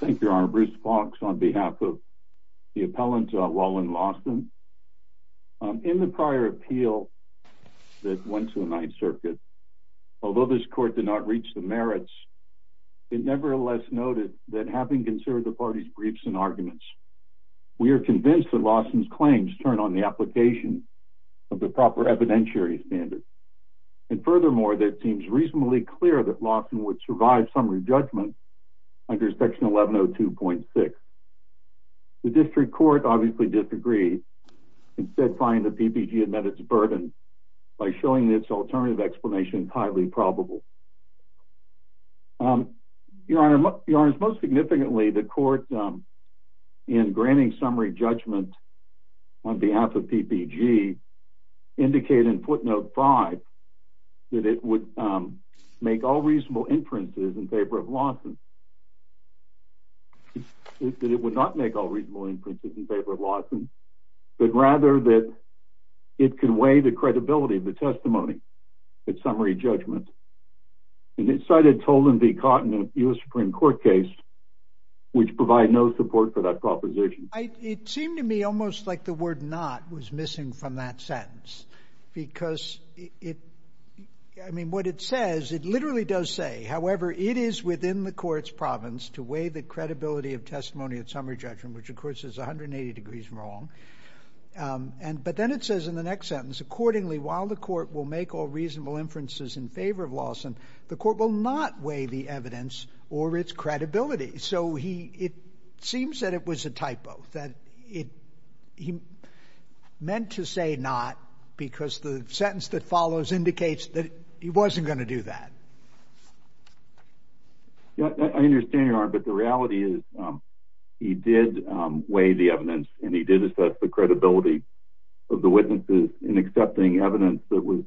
Thank you, Your Honor. Bruce Fox on behalf of the appellant, Walen Lawson. In the prior appeal that went to the Ninth Circuit, although this court did not reach the merits, it nevertheless noted that having considered the parties' briefs and arguments, we are convinced that Lawson's claims turn on the application of the proper evidentiary standards. And furthermore, it seems reasonably clear that Lawson would survive summary judgment under Section 1102.6. The district court obviously disagreed, instead finding that PPG had met its burden by showing its alternative explanation highly probable. Your Honor, most significantly, the court, in granting summary judgment on behalf of PPG, indicated in footnote 5 that it would make all reasonable inferences in favor of Lawson. And it cited Tolan v. Cotton in a U.S. Supreme Court case, which provided no support for that proposition. It seemed to me almost like the word not was missing from that sentence, because it, I mean, what it says, it literally does say, however, it is within the court's province to weigh the credibility of testimony at summary judgment, which, of course, is 180 degrees wrong. But then it says in the next sentence, accordingly, while the court will make all reasonable inferences in favor of Lawson, the court will not weigh the evidence or its credibility. So it seems that it was a typo, that he meant to say not because the sentence that follows indicates that he wasn't going to do that. I understand, Your Honor, but the reality is he did weigh the evidence, and he did assess the credibility of the witnesses in accepting evidence that was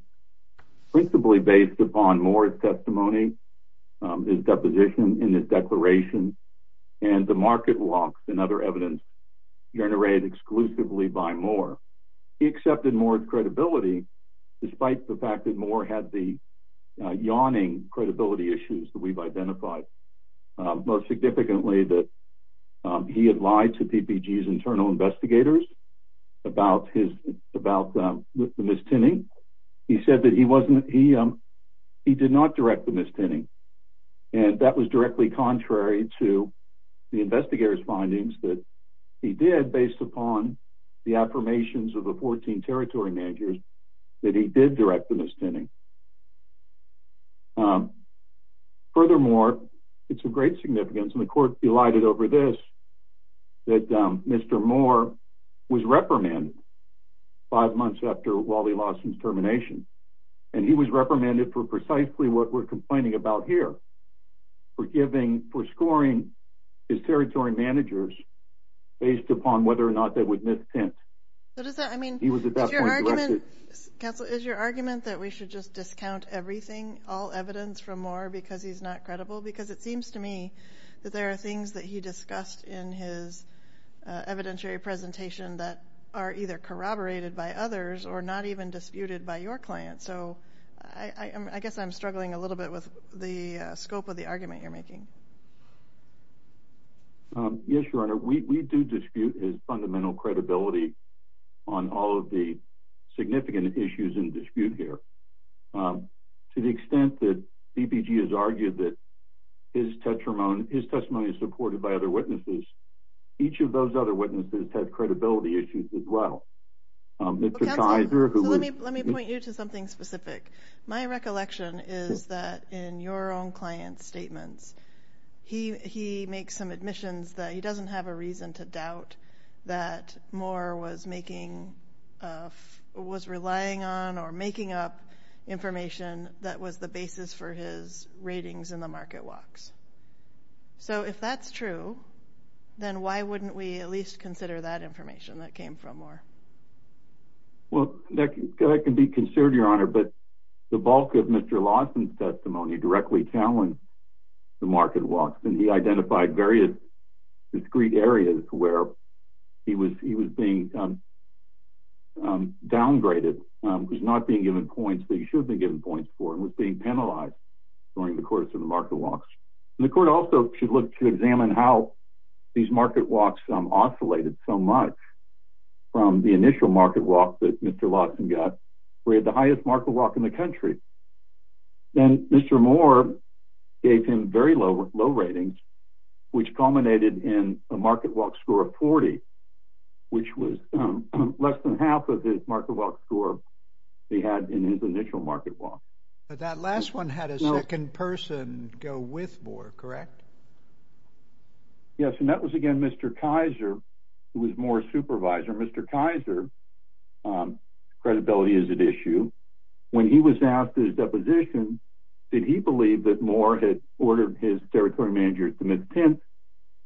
principally based upon Moore's testimony, his deposition in his declaration, and the market walks and other evidence generated exclusively by Moore. He accepted Moore's credibility, despite the fact that Moore had the yawning credibility issues that we've identified. Most significantly, that he had lied to PPG's internal investigators about the mistinning. He said that he did not direct the mistinning, and that was directly contrary to the investigators' findings that he did, based upon the affirmations of the 14 territory managers that he did direct the mistinning. Furthermore, it's of great significance, and the court delighted over this, that Mr. Moore was reprimanded five months after Wally Lawson's termination, and he was reprimanded for precisely what we're complaining about here, for scoring his territory managers based upon whether or not they would mistint. Counsel, is your argument that we should just discount everything, all evidence, from Moore because he's not credible? Because it seems to me that there are things that he discussed in his evidentiary presentation that are either corroborated by others or not even disputed by your client. So I guess I'm struggling a little bit with the scope of the argument you're making. Yes, Your Honor, we do dispute his fundamental credibility on all of the significant issues in dispute here. To the extent that PPG has argued that his testimony is supported by other witnesses, each of those other witnesses had credibility issues as well. Counsel, let me point you to something specific. My recollection is that in your own client's statements, he makes some admissions that he doesn't have a reason to doubt that Moore was relying on or making up information that was the basis for his ratings in the market walks. So if that's true, then why wouldn't we at least consider that information that came from Moore? Well, that can be considered, Your Honor, but the bulk of Mr. Lawson's testimony directly challenged the market walks. And he identified various discrete areas where he was being downgraded, was not being given points that he should have been given points for, and was being penalized during the course of the market walks. The court also should look to examine how these market walks oscillated so much from the initial market walks that Mr. Lawson got, where he had the highest market walk in the country. Then Mr. Moore gave him very low ratings, which culminated in a market walk score of 40, which was less than half of his market walk score he had in his initial market walk. But that last one had a second person go with Moore, correct? Yes, and that was, again, Mr. Kaiser, who was Moore's supervisor. Mr. Kaiser, credibility is at issue. When he was asked his deposition, did he believe that Moore had ordered his territory manager to submit intent?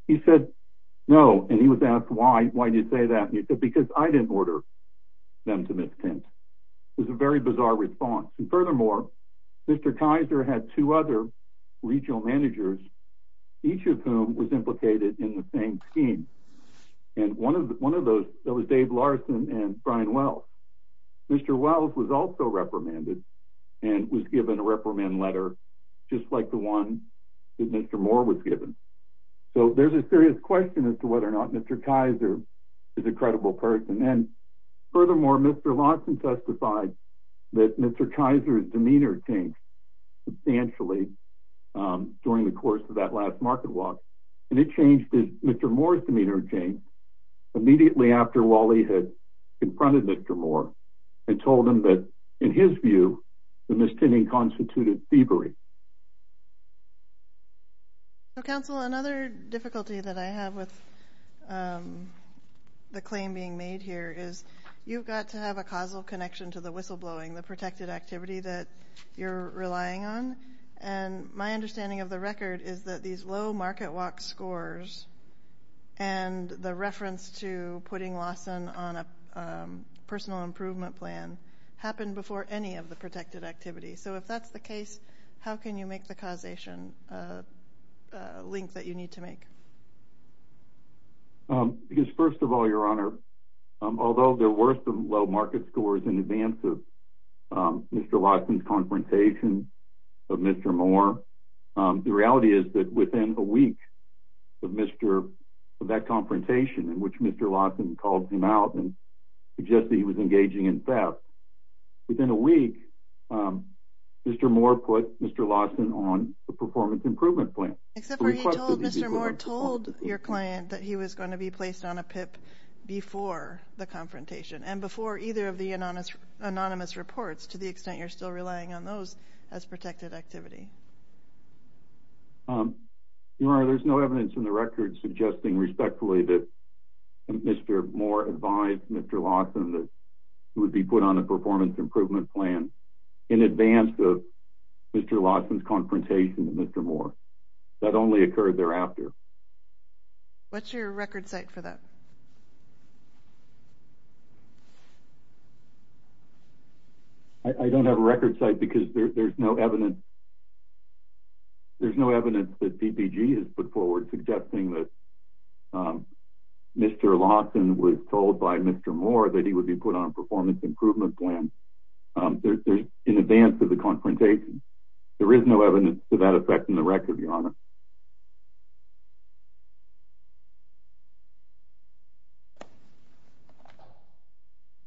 He said, no. And he was asked, why? Why did you say that? And he said, because I didn't order them to submit intent. It was a very bizarre response. And furthermore, Mr. Kaiser had two other regional managers, each of whom was implicated in the same scheme. And one of those, that was Dave Larson and Brian Wells. Mr. Wells was also reprimanded and was given a reprimand letter, just like the one that Mr. Moore was given. So there's a serious question as to whether or not Mr. Kaiser is a credible person. And furthermore, Mr. Larson testified that Mr. Kaiser's demeanor changed substantially during the course of that last market walk. And it changed as Mr. Moore's demeanor changed immediately after Wally had confronted Mr. Moore and told him that, in his view, the misdemeanor constituted thievery. So, counsel, another difficulty that I have with the claim being made here is you've got to have a causal connection to the whistleblowing, the protected activity that you're relying on. And my understanding of the record is that these low market walk scores and the reference to putting Lawson on a personal improvement plan happened before any of the protected activity. So if that's the case, how can you make the causation link that you need to make? Because, first of all, Your Honor, although there were some low market scores in advance of Mr. Larson's confrontation of Mr. Moore, the reality is that within a week of that confrontation in which Mr. Larson called him out and suggested he was engaging in theft, within a week Mr. Moore put Mr. Larson on a performance improvement plan. Except for he told Mr. Moore told your client that he was going to be placed on a PIP before the confrontation and before either of the anonymous reports to the extent you're still relying on those as protected activity. Your Honor, there's no evidence in the record suggesting respectfully that Mr. Moore advised Mr. Larson that he would be put on a performance improvement plan in advance of Mr. Larson's confrontation with Mr. Moore. That only occurred thereafter. What's your record site for that? I don't have a record site because there's no evidence. There's no evidence that PPG has put forward suggesting that Mr. Larson was told by Mr. Moore that he would be put on a performance improvement plan in advance of the confrontation. There is no evidence to that effect in the record, Your Honor.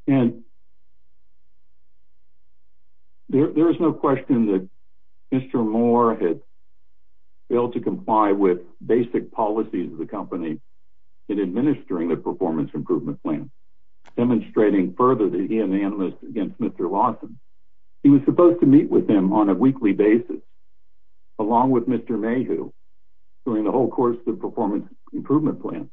And there is no question that Mr. Moore had failed to comply with basic policies of the company in administering the performance improvement plan, demonstrating further that he and the anonymous against Mr. Larson. He was supposed to meet with him on a weekly basis along with Mr. Mayhew during the whole course of the performance improvement plan.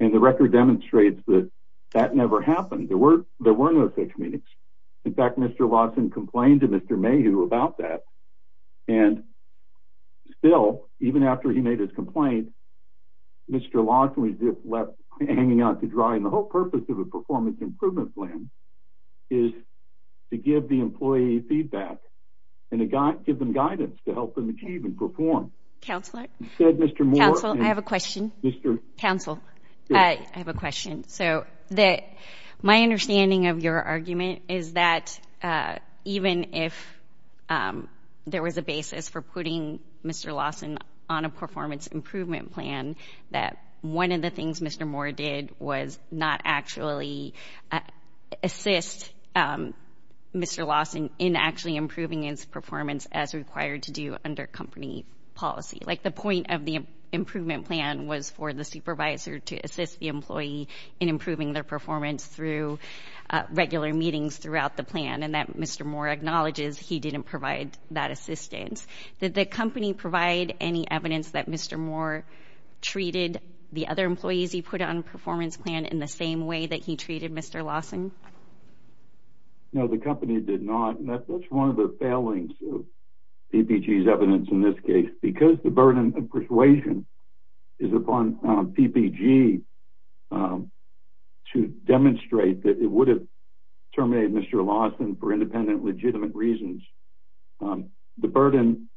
And the record demonstrates that that never happened. There were no such meetings. In fact, Mr. Larson complained to Mr. Mayhew about that. And still, even after he made his complaint, Mr. Larson was just left hanging out to dry. And the whole purpose of a performance improvement plan is to give the employee feedback and to give them guidance to help them achieve and perform. Counselor, I have a question. So my understanding of your argument is that even if there was a basis for putting Mr. Larson on a performance improvement plan, that one of the things Mr. Moore did was not actually assist Mr. Larson in actually improving his performance as required to do under company policy. Like the point of the improvement plan was for the supervisor to assist the employee in improving their performance through regular meetings throughout the plan, and that Mr. Moore acknowledges he didn't provide that assistance. Did the company provide any evidence that Mr. Moore treated the other employees he put on a performance plan in the same way that he treated Mr. Larson? No, the company did not. And that's one of the failings of PPG's evidence in this case. Because the burden of persuasion is upon PPG to demonstrate that it would have terminated Mr. Larson for independent legitimate reasons. The burden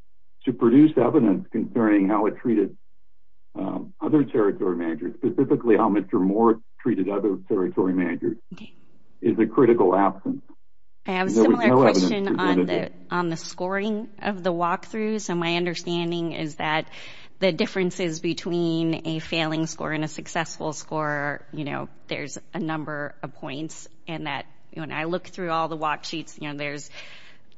to produce evidence concerning how it treated other territory managers, specifically how Mr. Moore treated other territory managers, is a critical absence. I have a similar question on the scoring of the walkthrough. So my understanding is that the differences between a failing score and a successful score, you know, there's a number of points. And that when I look through all the walksheets, you know, there's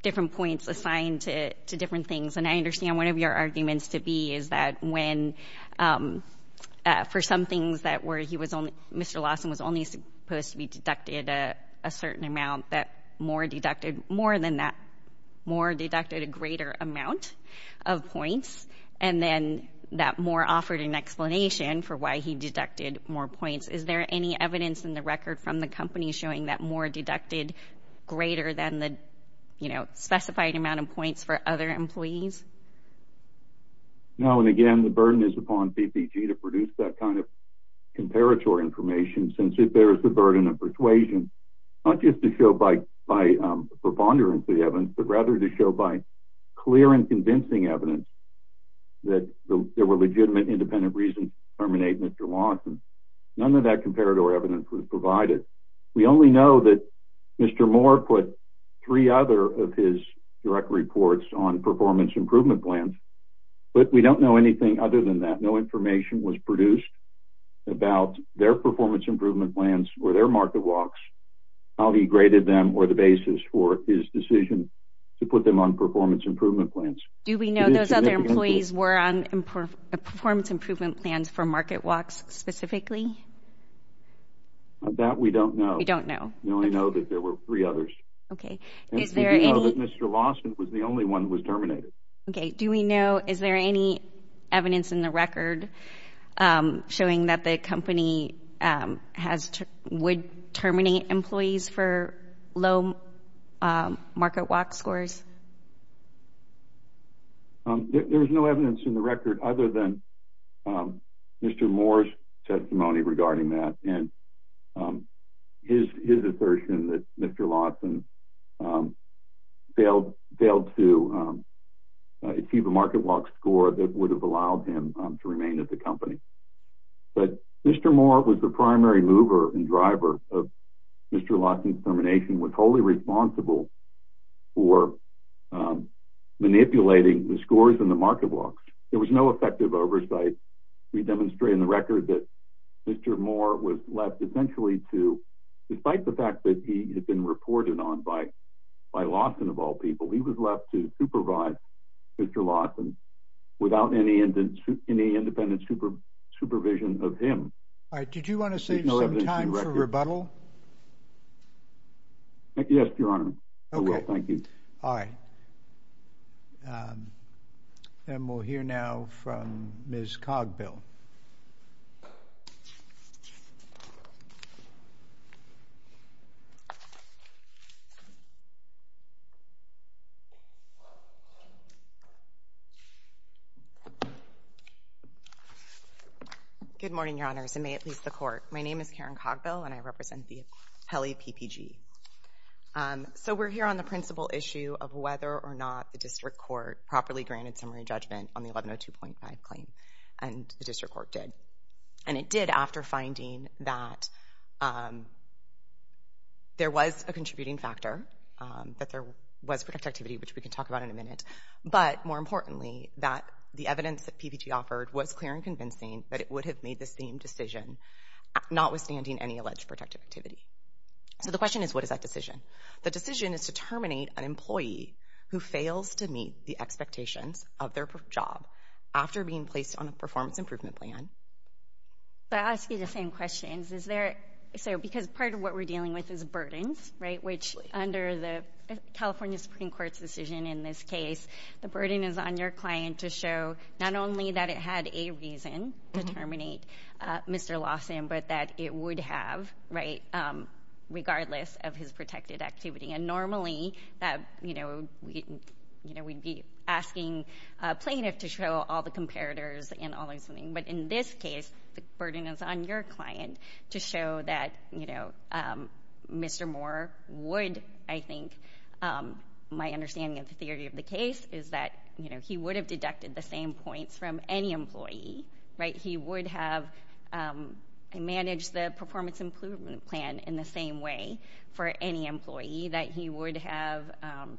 different points assigned to different things. And I understand one of your arguments to be is that when, for some things that were he was only, Mr. Larson was only supposed to be deducted a certain amount that Moore deducted more than that. Moore deducted a greater amount of points. And then that Moore offered an explanation for why he deducted more points. Is there any evidence in the record from the company showing that Moore deducted greater than the, you know, specified amount of points for other employees? No, and again, the burden is upon PPG to produce that kind of comparatory information, since it bears the burden of persuasion, not just to show by preponderance the evidence, but rather to show by clear and convincing evidence that there were legitimate, independent reasons to terminate Mr. Larson. None of that comparator evidence was provided. We only know that Mr. Moore put three other of his direct reports on performance improvement plans, but we don't know anything other than that. No information was produced about their performance improvement plans or their market walks, how he graded them or the basis for his decision to put them on performance improvement plans. Do we know those other employees were on performance improvement plans for market walks specifically? That we don't know. We don't know. We only know that there were three others. Okay. And do we know that Mr. Larson was the only one who was terminated? Okay. Do we know, is there any evidence in the record showing that the company would terminate employees for low market walk scores? There's no evidence in the record other than Mr. Moore's testimony regarding that and his assertion that Mr. Larson failed to achieve a market walk score that would have allowed him to remain at the company. But Mr. Moore was the primary mover and driver of Mr. Larson's termination, was wholly responsible for manipulating the scores in the market walks. There was no effective oversight. We demonstrate in the record that Mr. Moore was left essentially to, despite the fact that he had been reported on by Larson of all people, he was left to supervise Mr. Larson without any independent supervision of him. All right. Did you want to save some time for rebuttal? Yes, Your Honor. Okay. I will. Thank you. All right. And we'll hear now from Ms. Cogbill. Good morning, Your Honors, and may it please the Court. My name is Karen Cogbill, and I represent the Pele PPG. So we're here on the principal issue of whether or not the district court properly granted summary judgment on the 1102.5 claim, and the district court did. And it did after finding that there was a contributing factor, that there was protected activity, which we can talk about in a minute, but more importantly, that the evidence that PPG offered was clear and convincing that it would have made the same decision, notwithstanding any alleged protected activity. So the question is, what is that decision? The decision is to terminate an employee who fails to meet the expectations of their job after being placed on a performance improvement plan. But I ask you the same questions. Is there so because part of what we're dealing with is burdens, right, which under the California Supreme Court's decision in this case, the burden is on your client to show not only that it had a reason to terminate Mr. Larson, but that it would have, right, regardless of his protected activity. And normally, you know, we'd be asking a plaintiff to show all the comparators and all those things. But in this case, the burden is on your client to show that, you know, Mr. Moore would, I think, my understanding of the theory of the case is that, you know, he would have deducted the same points from any employee, right? That he would have managed the performance improvement plan in the same way for any employee, that he would have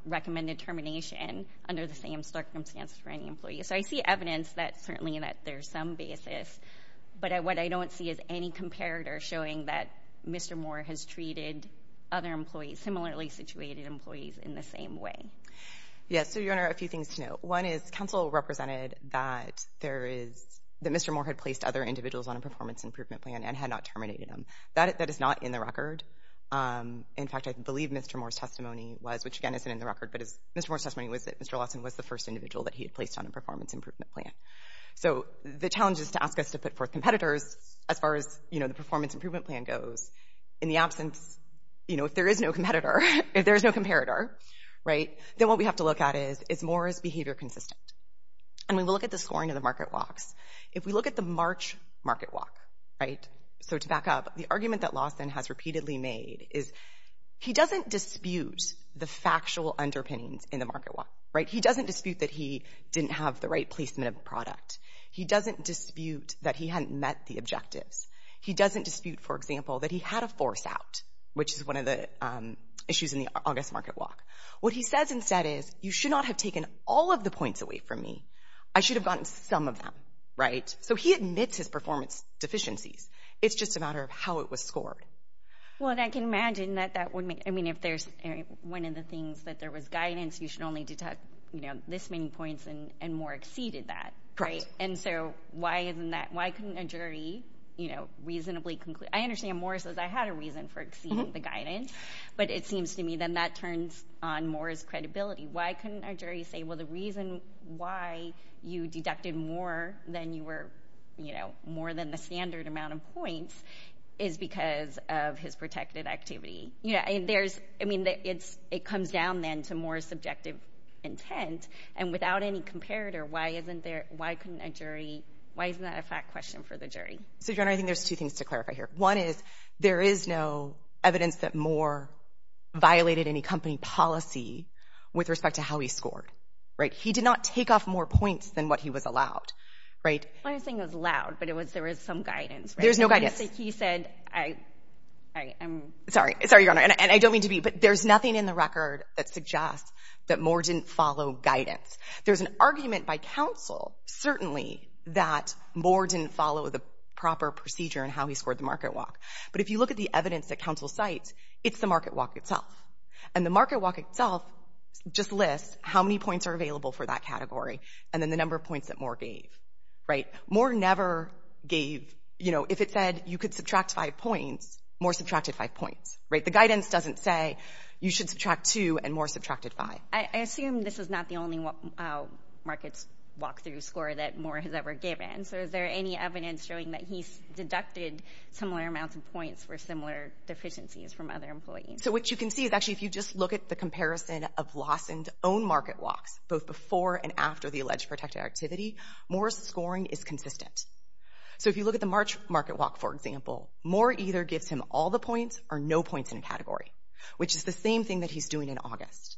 recommended termination under the same circumstances for any employee. So I see evidence that certainly that there's some basis. But what I don't see is any comparator showing that Mr. Moore has treated other employees, similarly situated employees, in the same way. Yes, so, Your Honor, a few things to note. One is counsel represented that there is, that Mr. Moore had placed other individuals on a performance improvement plan and had not terminated them. That is not in the record. In fact, I believe Mr. Moore's testimony was, which again isn't in the record, but Mr. Moore's testimony was that Mr. Larson was the first individual that he had placed on a performance improvement plan. So the challenge is to ask us to put forth competitors as far as, you know, the performance improvement plan goes. In the absence, you know, if there is no competitor, if there is no comparator, right, then what we have to look at is, is Moore's behavior consistent? And we will look at the scoring of the market walks. If we look at the March market walk, right, so to back up, the argument that Larson has repeatedly made is he doesn't dispute the factual underpinnings in the market walk, right? He doesn't dispute that he didn't have the right placement of product. He doesn't dispute that he hadn't met the objectives. He doesn't dispute, for example, that he had a force out, which is one of the issues in the August market walk. What he says instead is, you should not have taken all of the points away from me. I should have gotten some of them, right? So he admits his performance deficiencies. It's just a matter of how it was scored. Well, and I can imagine that that would make, I mean, if there's one of the things that there was guidance, you should only detect, you know, this many points and more exceeded that. Right. And so why isn't that, why couldn't a jury, you know, reasonably conclude, I understand Moore says I had a reason for exceeding the guidance, but it seems to me then that turns on Moore's credibility. Why couldn't a jury say, well, the reason why you deducted more than you were, you know, more than the standard amount of points is because of his protected activity. You know, there's, I mean, it comes down then to Moore's subjective intent, and without any comparator, why isn't there, why couldn't a jury, why isn't that a fact question for the jury? So, Joanna, I think there's two things to clarify here. One is there is no evidence that Moore violated any company policy with respect to how he scored. Right. He did not take off more points than what he was allowed. Right. I was saying it was allowed, but it was there was some guidance. There's no guidance. He said I, I am. Sorry, sorry, Your Honor, and I don't mean to be, but there's nothing in the record that suggests that Moore didn't follow guidance. There's an argument by counsel, certainly, that Moore didn't follow the proper procedure in how he scored the market walk. But if you look at the evidence that counsel cites, it's the market walk itself. And the market walk itself just lists how many points are available for that category and then the number of points that Moore gave. Right. Moore never gave, you know, if it said you could subtract five points, Moore subtracted five points. Right. The guidance doesn't say you should subtract two and Moore subtracted five. I assume this is not the only markets walk through score that Moore has ever given. So is there any evidence showing that he's deducted similar amounts of points for similar deficiencies from other employees? So what you can see is actually if you just look at the comparison of loss and own market walks, both before and after the alleged protected activity, Moore's scoring is consistent. So if you look at the March market walk, for example, Moore either gives him all the points or no points in a category, which is the same thing that he's doing in August.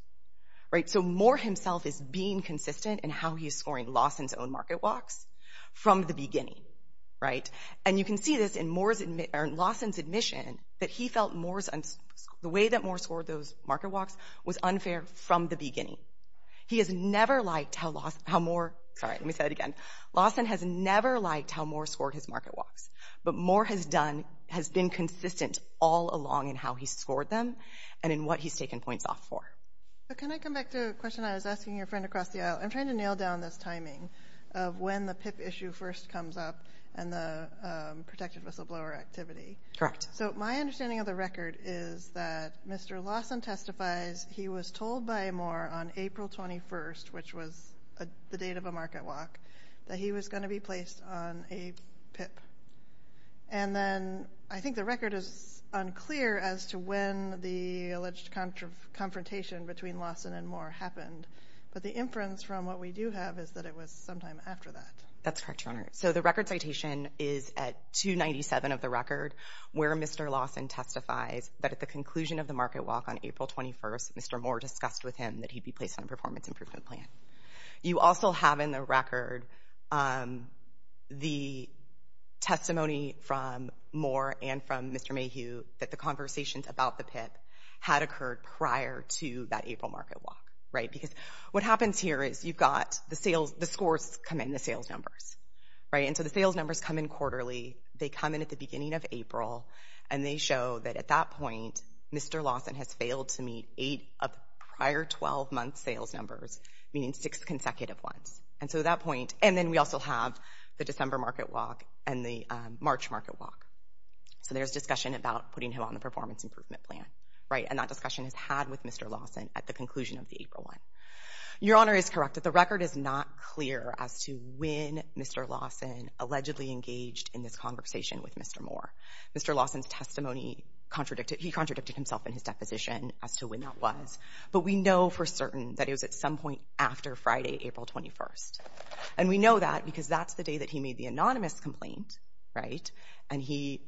Right. So Moore himself is being consistent in how he's scoring loss and his own market walks from the beginning. Right. And you can see this in loss and his admission that he felt the way that Moore scored those market walks was unfair from the beginning. He has never liked how Moore, sorry, let me say that again, loss and has never liked how Moore scored his market walks. But Moore has been consistent all along in how he's scored them and in what he's taken points off for. Can I come back to a question I was asking your friend across the aisle? I'm trying to nail down this timing of when the PIP issue first comes up and the protected whistleblower activity. Correct. So my understanding of the record is that Mr. Lawson testifies he was told by Moore on April 21st, which was the date of a market walk, that he was going to be placed on a PIP. And then I think the record is unclear as to when the alleged confrontation between Lawson and Moore happened, but the inference from what we do have is that it was sometime after that. That's correct, Your Honor. So the record citation is at 297 of the record where Mr. Lawson testifies that at the conclusion of the market walk on April 21st, Moore discussed with him that he'd be placed on a performance improvement plan. You also have in the record the testimony from Moore and from Mr. Mayhew that the conversations about the PIP had occurred prior to that April market walk. Because what happens here is you've got the scores come in, the sales numbers. And so the sales numbers come in quarterly. They come in at the beginning of April, and they show that at that point Mr. Lawson has failed to meet eight of the prior 12-month sales numbers, meaning six consecutive ones. And then we also have the December market walk and the March market walk. So there's discussion about putting him on the performance improvement plan, right? And that discussion is had with Mr. Lawson at the conclusion of the April one. Your Honor is correct that the record is not clear as to when Mr. Lawson allegedly engaged in this conversation with Mr. Moore. Mr. Lawson's testimony contradicted, he contradicted himself in his deposition as to when that was. But we know for certain that it was at some point after Friday, April 21st. And we know that because that's the day that he made the anonymous complaint, right? And he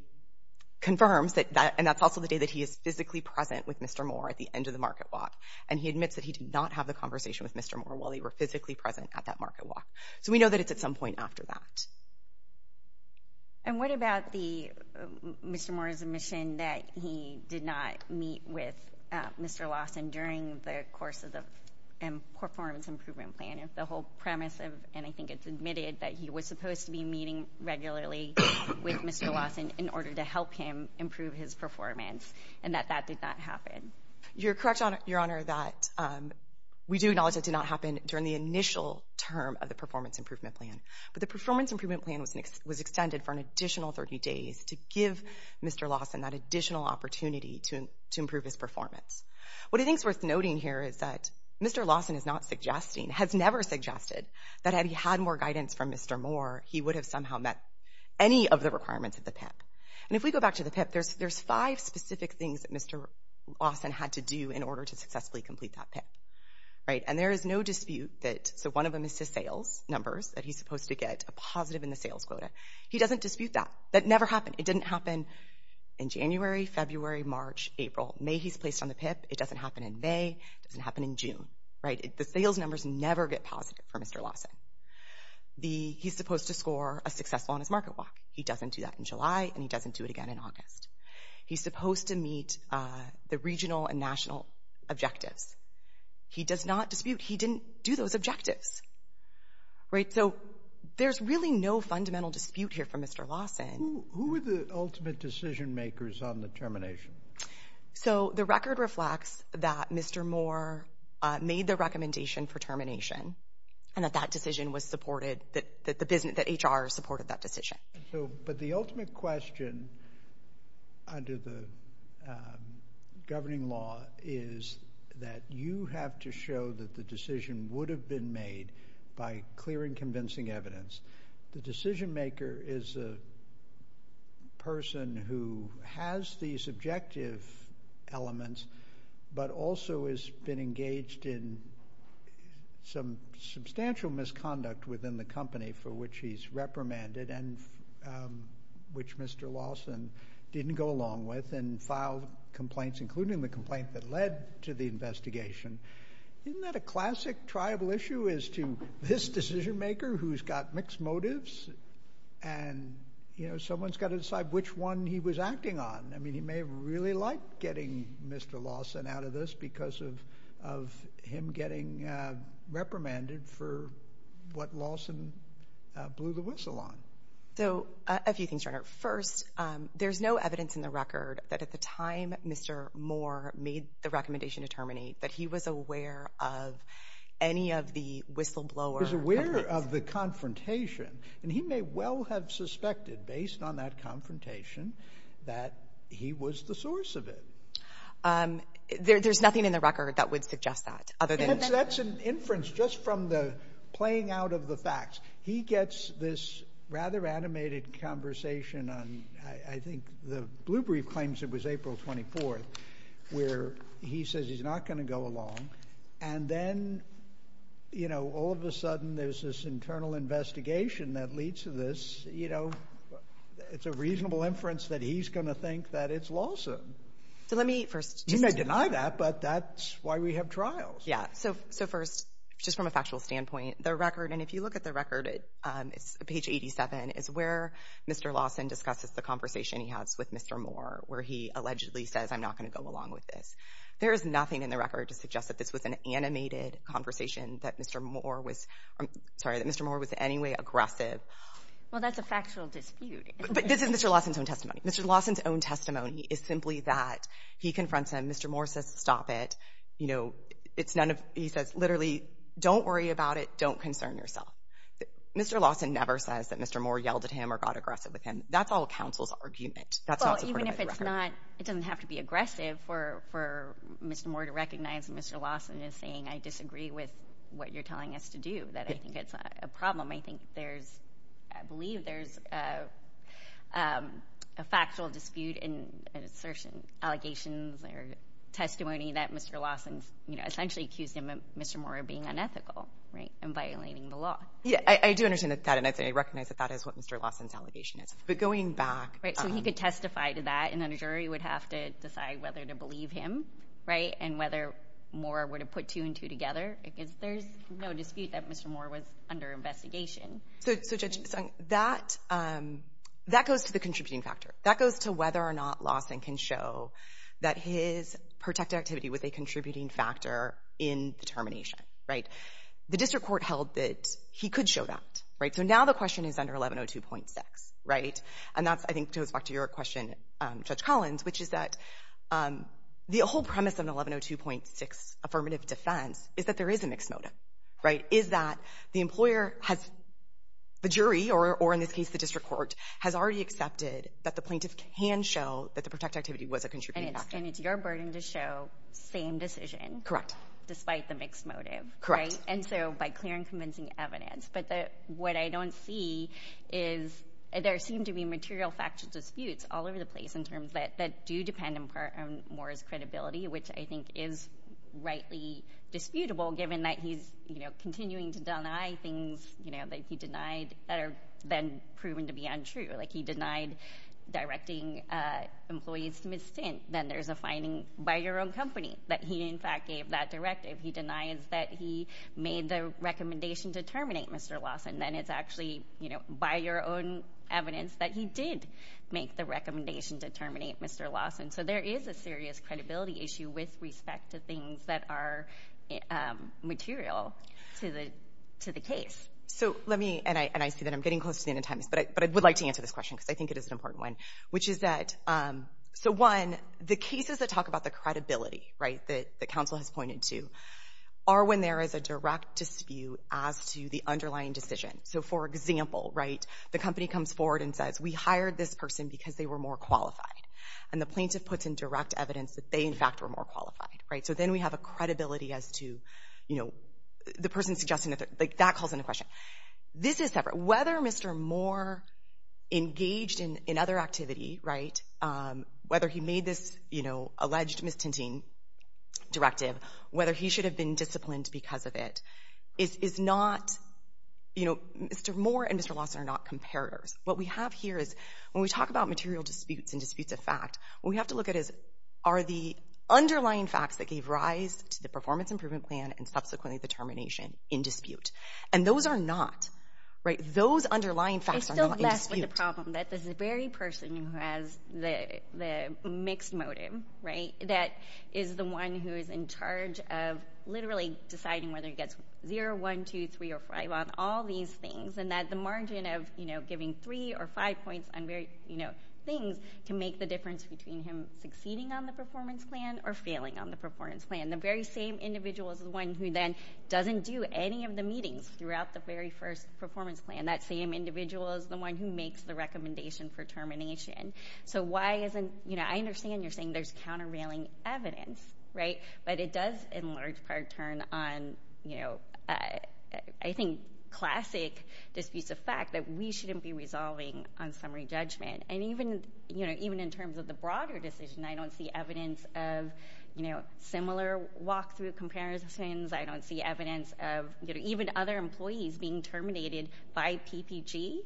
confirms that, and that's also the day that he is physically present with Mr. Moore at the end of the market walk. And he admits that he did not have the conversation with Mr. Moore while they were physically present at that market walk. So we know that it's at some point after that. And what about Mr. Moore's admission that he did not meet with Mr. Lawson during the course of the performance improvement plan? The whole premise of, and I think it's admitted, that he was supposed to be meeting regularly with Mr. Lawson in order to help him improve his performance and that that did not happen. You're correct, Your Honor, that we do acknowledge that did not happen during the initial term of the performance improvement plan. But the performance improvement plan was extended for an additional 30 days to give Mr. Lawson that additional opportunity to improve his performance. What I think is worth noting here is that Mr. Lawson is not suggesting, has never suggested, that had he had more guidance from Mr. Moore, he would have somehow met any of the requirements of the PIP. And if we go back to the PIP, there's five specific things that Mr. Lawson had to do in order to successfully complete that PIP. And there is no dispute that, so one of them is his sales numbers, that he's supposed to get a positive in the sales quota. He doesn't dispute that. That never happened. It didn't happen in January, February, March, April. May he's placed on the PIP. It doesn't happen in May. It doesn't happen in June. The sales numbers never get positive for Mr. Lawson. He's supposed to score a successful on his market walk. He's supposed to meet the regional and national objectives. He does not dispute. He didn't do those objectives. So there's really no fundamental dispute here for Mr. Lawson. Who were the ultimate decision makers on the termination? So the record reflects that Mr. Moore made the recommendation for termination and that that decision was supported, that HR supported that decision. But the ultimate question under the governing law is that you have to show that the decision would have been made by clearing convincing evidence. The decision maker is a person who has these objective elements but also has been engaged in some substantial misconduct within the company for which he's reprimanded and which Mr. Lawson didn't go along with and filed complaints, including the complaint that led to the investigation. Isn't that a classic tribal issue as to this decision maker who's got mixed motives and someone's got to decide which one he was acting on? I mean, he may have really liked getting Mr. Lawson out of this because of him getting reprimanded for what Lawson blew the whistle on. So a few things, Your Honor. First, there's no evidence in the record that at the time Mr. Moore made the recommendation to terminate that he was aware of any of the whistleblower complaints. He was aware of the confrontation, and he may well have suspected, based on that confrontation, that he was the source of it. There's nothing in the record that would suggest that other than that. That's an inference just from the playing out of the facts. He gets this rather animated conversation on, I think, the Blue Brief claims it was April 24th, where he says he's not going to go along, and then, you know, all of a sudden there's this internal investigation that leads to this. It's a reasonable inference that he's going to think that it's Lawson. You may deny that, but that's why we have trials. Yeah. So first, just from a factual standpoint, the record, and if you look at the record, it's page 87, is where Mr. Lawson discusses the conversation he has with Mr. Moore, where he allegedly says, I'm not going to go along with this. There is nothing in the record to suggest that this was an animated conversation, that Mr. Moore was in any way aggressive. Well, that's a factual dispute. But this is Mr. Lawson's own testimony. Mr. Lawson's own testimony is simply that he confronts him. Mr. Moore says, stop it. You know, it's none of, he says, literally, don't worry about it. Don't concern yourself. Mr. Lawson never says that Mr. Moore yelled at him or got aggressive with him. That's all counsel's argument. Well, even if it's not, it doesn't have to be aggressive for Mr. Moore to recognize that Mr. Lawson is saying, I disagree with what you're telling us to do, that I think it's a problem. I think there's, I believe there's a factual dispute in an assertion, allegations, or testimony that Mr. Lawson essentially accused Mr. Moore of being unethical and violating the law. Yeah, I do understand that. And I recognize that that is what Mr. Lawson's allegation is. But going back. Right, so he could testify to that, and then a jury would have to decide whether to believe him, right, and whether Moore would have put two and two together. Because there's no dispute that Mr. Moore was under investigation. So Judge Sung, that goes to the contributing factor. That goes to whether or not Lawson can show that his protective activity was a contributing factor in the termination, right? The district court held that he could show that, right? So now the question is under 1102.6, right? And that's, I think, goes back to your question, Judge Collins, which is that the whole premise of an 1102.6 affirmative defense is that there is a mixed motive, right? Is that the employer has the jury, or in this case the district court, has already accepted that the plaintiff can show that the protective activity was a contributing factor. And it's your burden to show same decision. Correct. Despite the mixed motive. Correct. And so by clear and convincing evidence. But what I don't see is there seem to be material factual disputes all over the place in terms that do depend on Moore's credibility, which I think is rightly disputable given that he's, you know, continuing to deny things, you know, that he denied that are then proven to be untrue. Like he denied directing employees to misdemeanor. Then there's a finding by your own company that he, in fact, gave that directive. He denies that he made the recommendation to terminate Mr. Lawson. Then it's actually, you know, by your own evidence that he did make the recommendation to terminate Mr. Lawson. So there is a serious credibility issue with respect to things that are material to the case. So let me, and I see that I'm getting close to the end of time, but I would like to answer this question because I think it is an important one, which is that, so one, the cases that talk about the credibility, right, that counsel has pointed to are when there is a direct dispute as to the underlying decision. So, for example, right, the company comes forward and says, we hired this person because they were more qualified. And the plaintiff puts in direct evidence that they, in fact, were more qualified. Right, so then we have a credibility as to, you know, the person suggesting that, like that calls into question. This is separate. Whether Mr. Moore engaged in other activity, right, whether he made this, you know, alleged mistinting directive, whether he should have been disciplined because of it, is not, you know, Mr. Moore and Mr. Lawson are not comparators. What we have here is when we talk about material disputes and disputes of fact, what we have to look at is, are the underlying facts that gave rise to the performance improvement plan and subsequently the termination in dispute? And those are not, right, those underlying facts are not in dispute. I still mess with the problem that the very person who has the mixed motive, right, that is the one who is in charge of literally deciding whether he gets 0, 1, 2, 3, or 5 on all these things and that the margin of, you know, giving 3 or 5 points on very, you know, things, can make the difference between him succeeding on the performance plan or failing on the performance plan. The very same individual is the one who then doesn't do any of the meetings throughout the very first performance plan. That same individual is the one who makes the recommendation for termination. So why isn't, you know, I understand you're saying there's countervailing evidence, right, but it does in large part turn on, you know, I think classic disputes of fact that we shouldn't be resolving on summary judgment. And even, you know, even in terms of the broader decision, I don't see evidence of, you know, similar walk-through comparisons. I don't see evidence of, you know, even other employees being terminated by PPG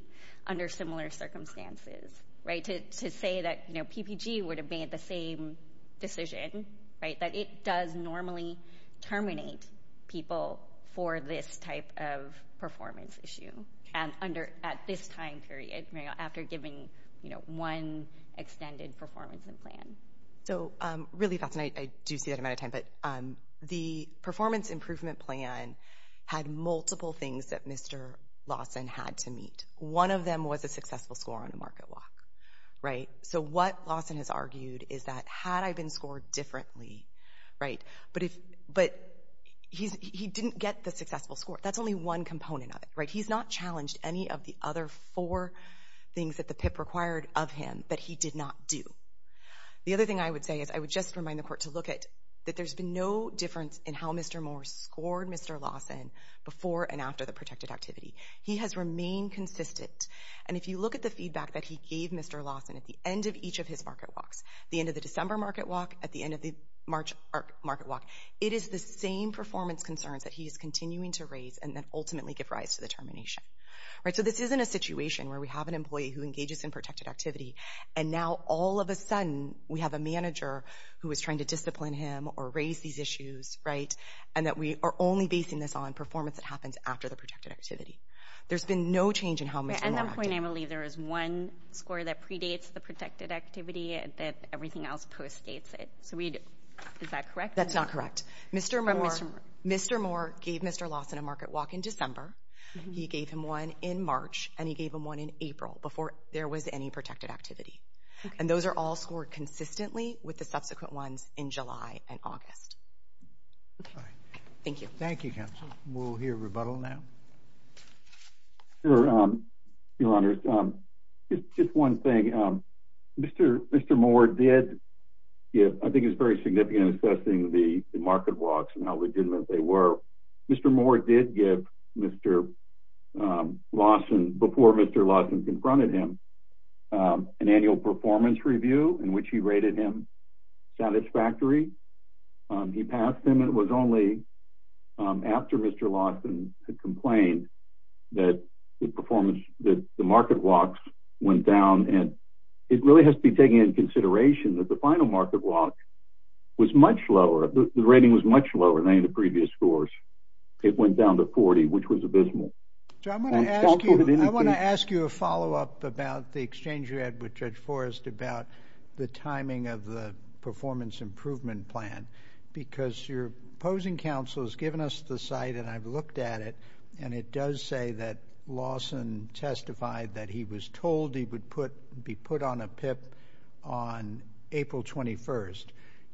under similar circumstances, right, to say that, you know, PPG would have made the same decision, right, that it does normally terminate people for this type of performance issue. And at this time period, you know, after giving, you know, one extended performance plan. So really fascinating. I do see that amount of time. But the performance improvement plan had multiple things that Mr. Lawson had to meet. One of them was a successful score on the market walk, right? So what Lawson has argued is that had I been scored differently, right, but he didn't get the successful score. That's only one component of it, right? He's not challenged any of the other four things that the PIP required of him that he did not do. The other thing I would say is I would just remind the court to look at that there's been no difference in how Mr. Moore scored Mr. Lawson before and after the protected activity. He has remained consistent. And if you look at the feedback that he gave Mr. Lawson at the end of each of his market walks, the end of the December market walk, at the end of the March market walk, it is the same performance concerns that he is continuing to raise and then ultimately give rise to the termination, right? So this isn't a situation where we have an employee who engages in protected activity and now all of a sudden we have a manager who is trying to discipline him or raise these issues, right, and that we are only basing this on performance that happens after the protected activity. There's been no change in how Mr. Moore acted. At that point, I believe there is one score that predates the protected activity that everything else postdates it. So is that correct? That's not correct. Mr. Moore gave Mr. Lawson a market walk in December. He gave him one in March, and he gave him one in April before there was any protected activity. And those are all scored consistently with the subsequent ones in July and August. Thank you. Thank you, counsel. We'll hear rebuttal now. Sure, Your Honors. Just one thing. Mr. Moore did, I think it's very significant, assessing the market walks and how legitimate they were. Mr. Moore did give Mr. Lawson, before Mr. Lawson confronted him, an annual performance review in which he rated him satisfactory. He passed him. It was only after Mr. Lawson had complained that the market walks went down. And it really has to be taken into consideration that the final market walk was much lower. The rating was much lower than any of the previous scores. It went down to 40, which was abysmal. I want to ask you a follow-up about the exchange you had with Judge Forrest about the timing of the performance improvement plan. Because your opposing counsel has given us the site, and I've looked at it, and it does say that Lawson testified that he was told he would be put on a PIP on April 21st.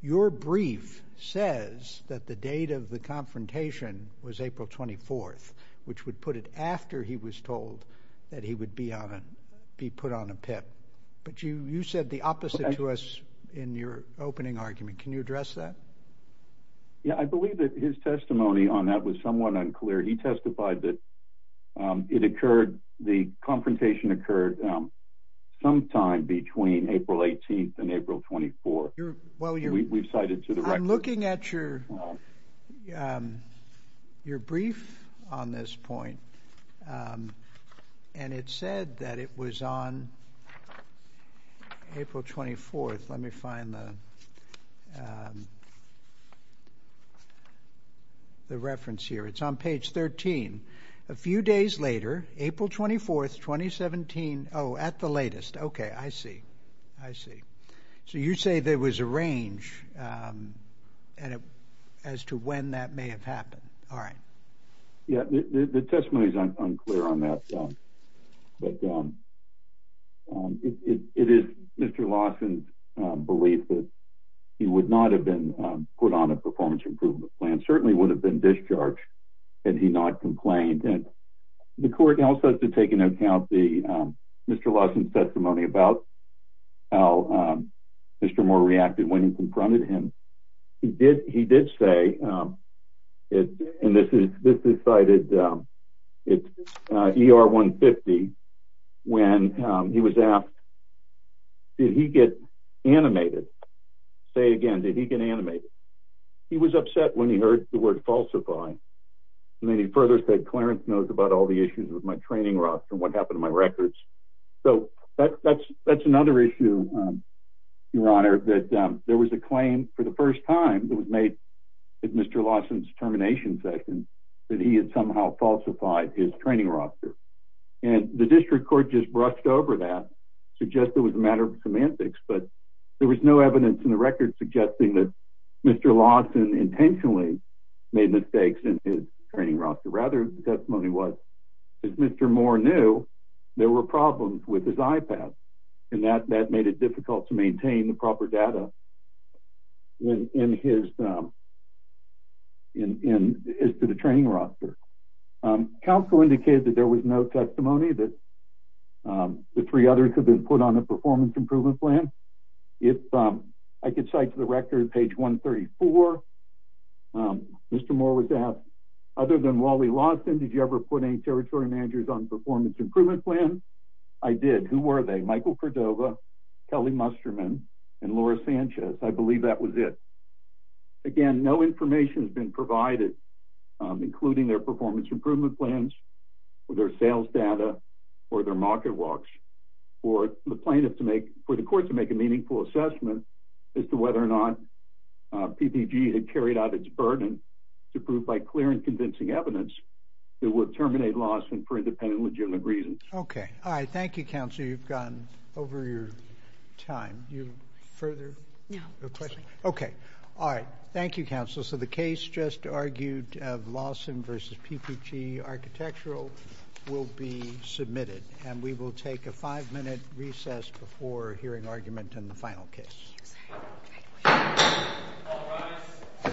Your brief says that the date of the confrontation was April 24th, which would put it after he was told that he would be put on a PIP. But you said the opposite to us in your opening argument. Can you address that? Yeah, I believe that his testimony on that was somewhat unclear. He testified that the confrontation occurred sometime between April 18th and April 24th. We've cited to the record. I'm looking at your brief on this point, and it said that it was on April 24th. Let me find the reference here. It's on page 13. A few days later, April 24th, 2017. Oh, at the latest. Okay, I see. I see. So you say there was a range as to when that may have happened. All right. Yeah, the testimony is unclear on that. But it is Mr. Lawson's belief that he would not have been put on a performance improvement plan, certainly would have been discharged had he not complained. The court also has to take into account Mr. Lawson's testimony about how Mr. Moore reacted when he confronted him. He did say, and this is cited, it's ER 150, when he was asked, did he get animated? Say again, did he get animated? He was upset when he heard the word falsify. And then he further said, Clarence knows about all the issues with my training roster and what happened to my records. So that's another issue, Your Honor, that there was a claim for the first time that was made at Mr. Lawson's termination session that he had somehow falsified his training roster. And the district court just brushed over that, suggested it was a matter of semantics, but there was no evidence in the record suggesting that Mr. Lawson intentionally made mistakes in his training roster. Rather, the testimony was that Mr. Moore knew there were problems with his iPad, and that made it difficult to maintain the proper data as to the training roster. Counsel indicated that there was no testimony that the three others had been put on the performance improvement plan. If I could cite to the record, page 134, Mr. Moore was asked, other than Wally Lawson, did you ever put any territory managers on the performance improvement plan? I did. Who were they? Michael Cordova, Kelly Musterman, and Laura Sanchez. I believe that was it. Again, no information has been provided, including their performance improvement plans, or their sales data, or their market walks, for the plaintiff to make, for the court to make a meaningful assessment as to whether or not PPG had carried out its burden to prove by clear and convincing evidence it would terminate Lawson for independent and legitimate reasons. Okay. All right. Thank you, Counselor. You've gone over your time. Do you have further questions? Okay. All right. Thank you, Counselor. So the case just argued of Lawson v. PPG Architectural will be submitted, and we will take a five-minute recess before hearing argument in the final case.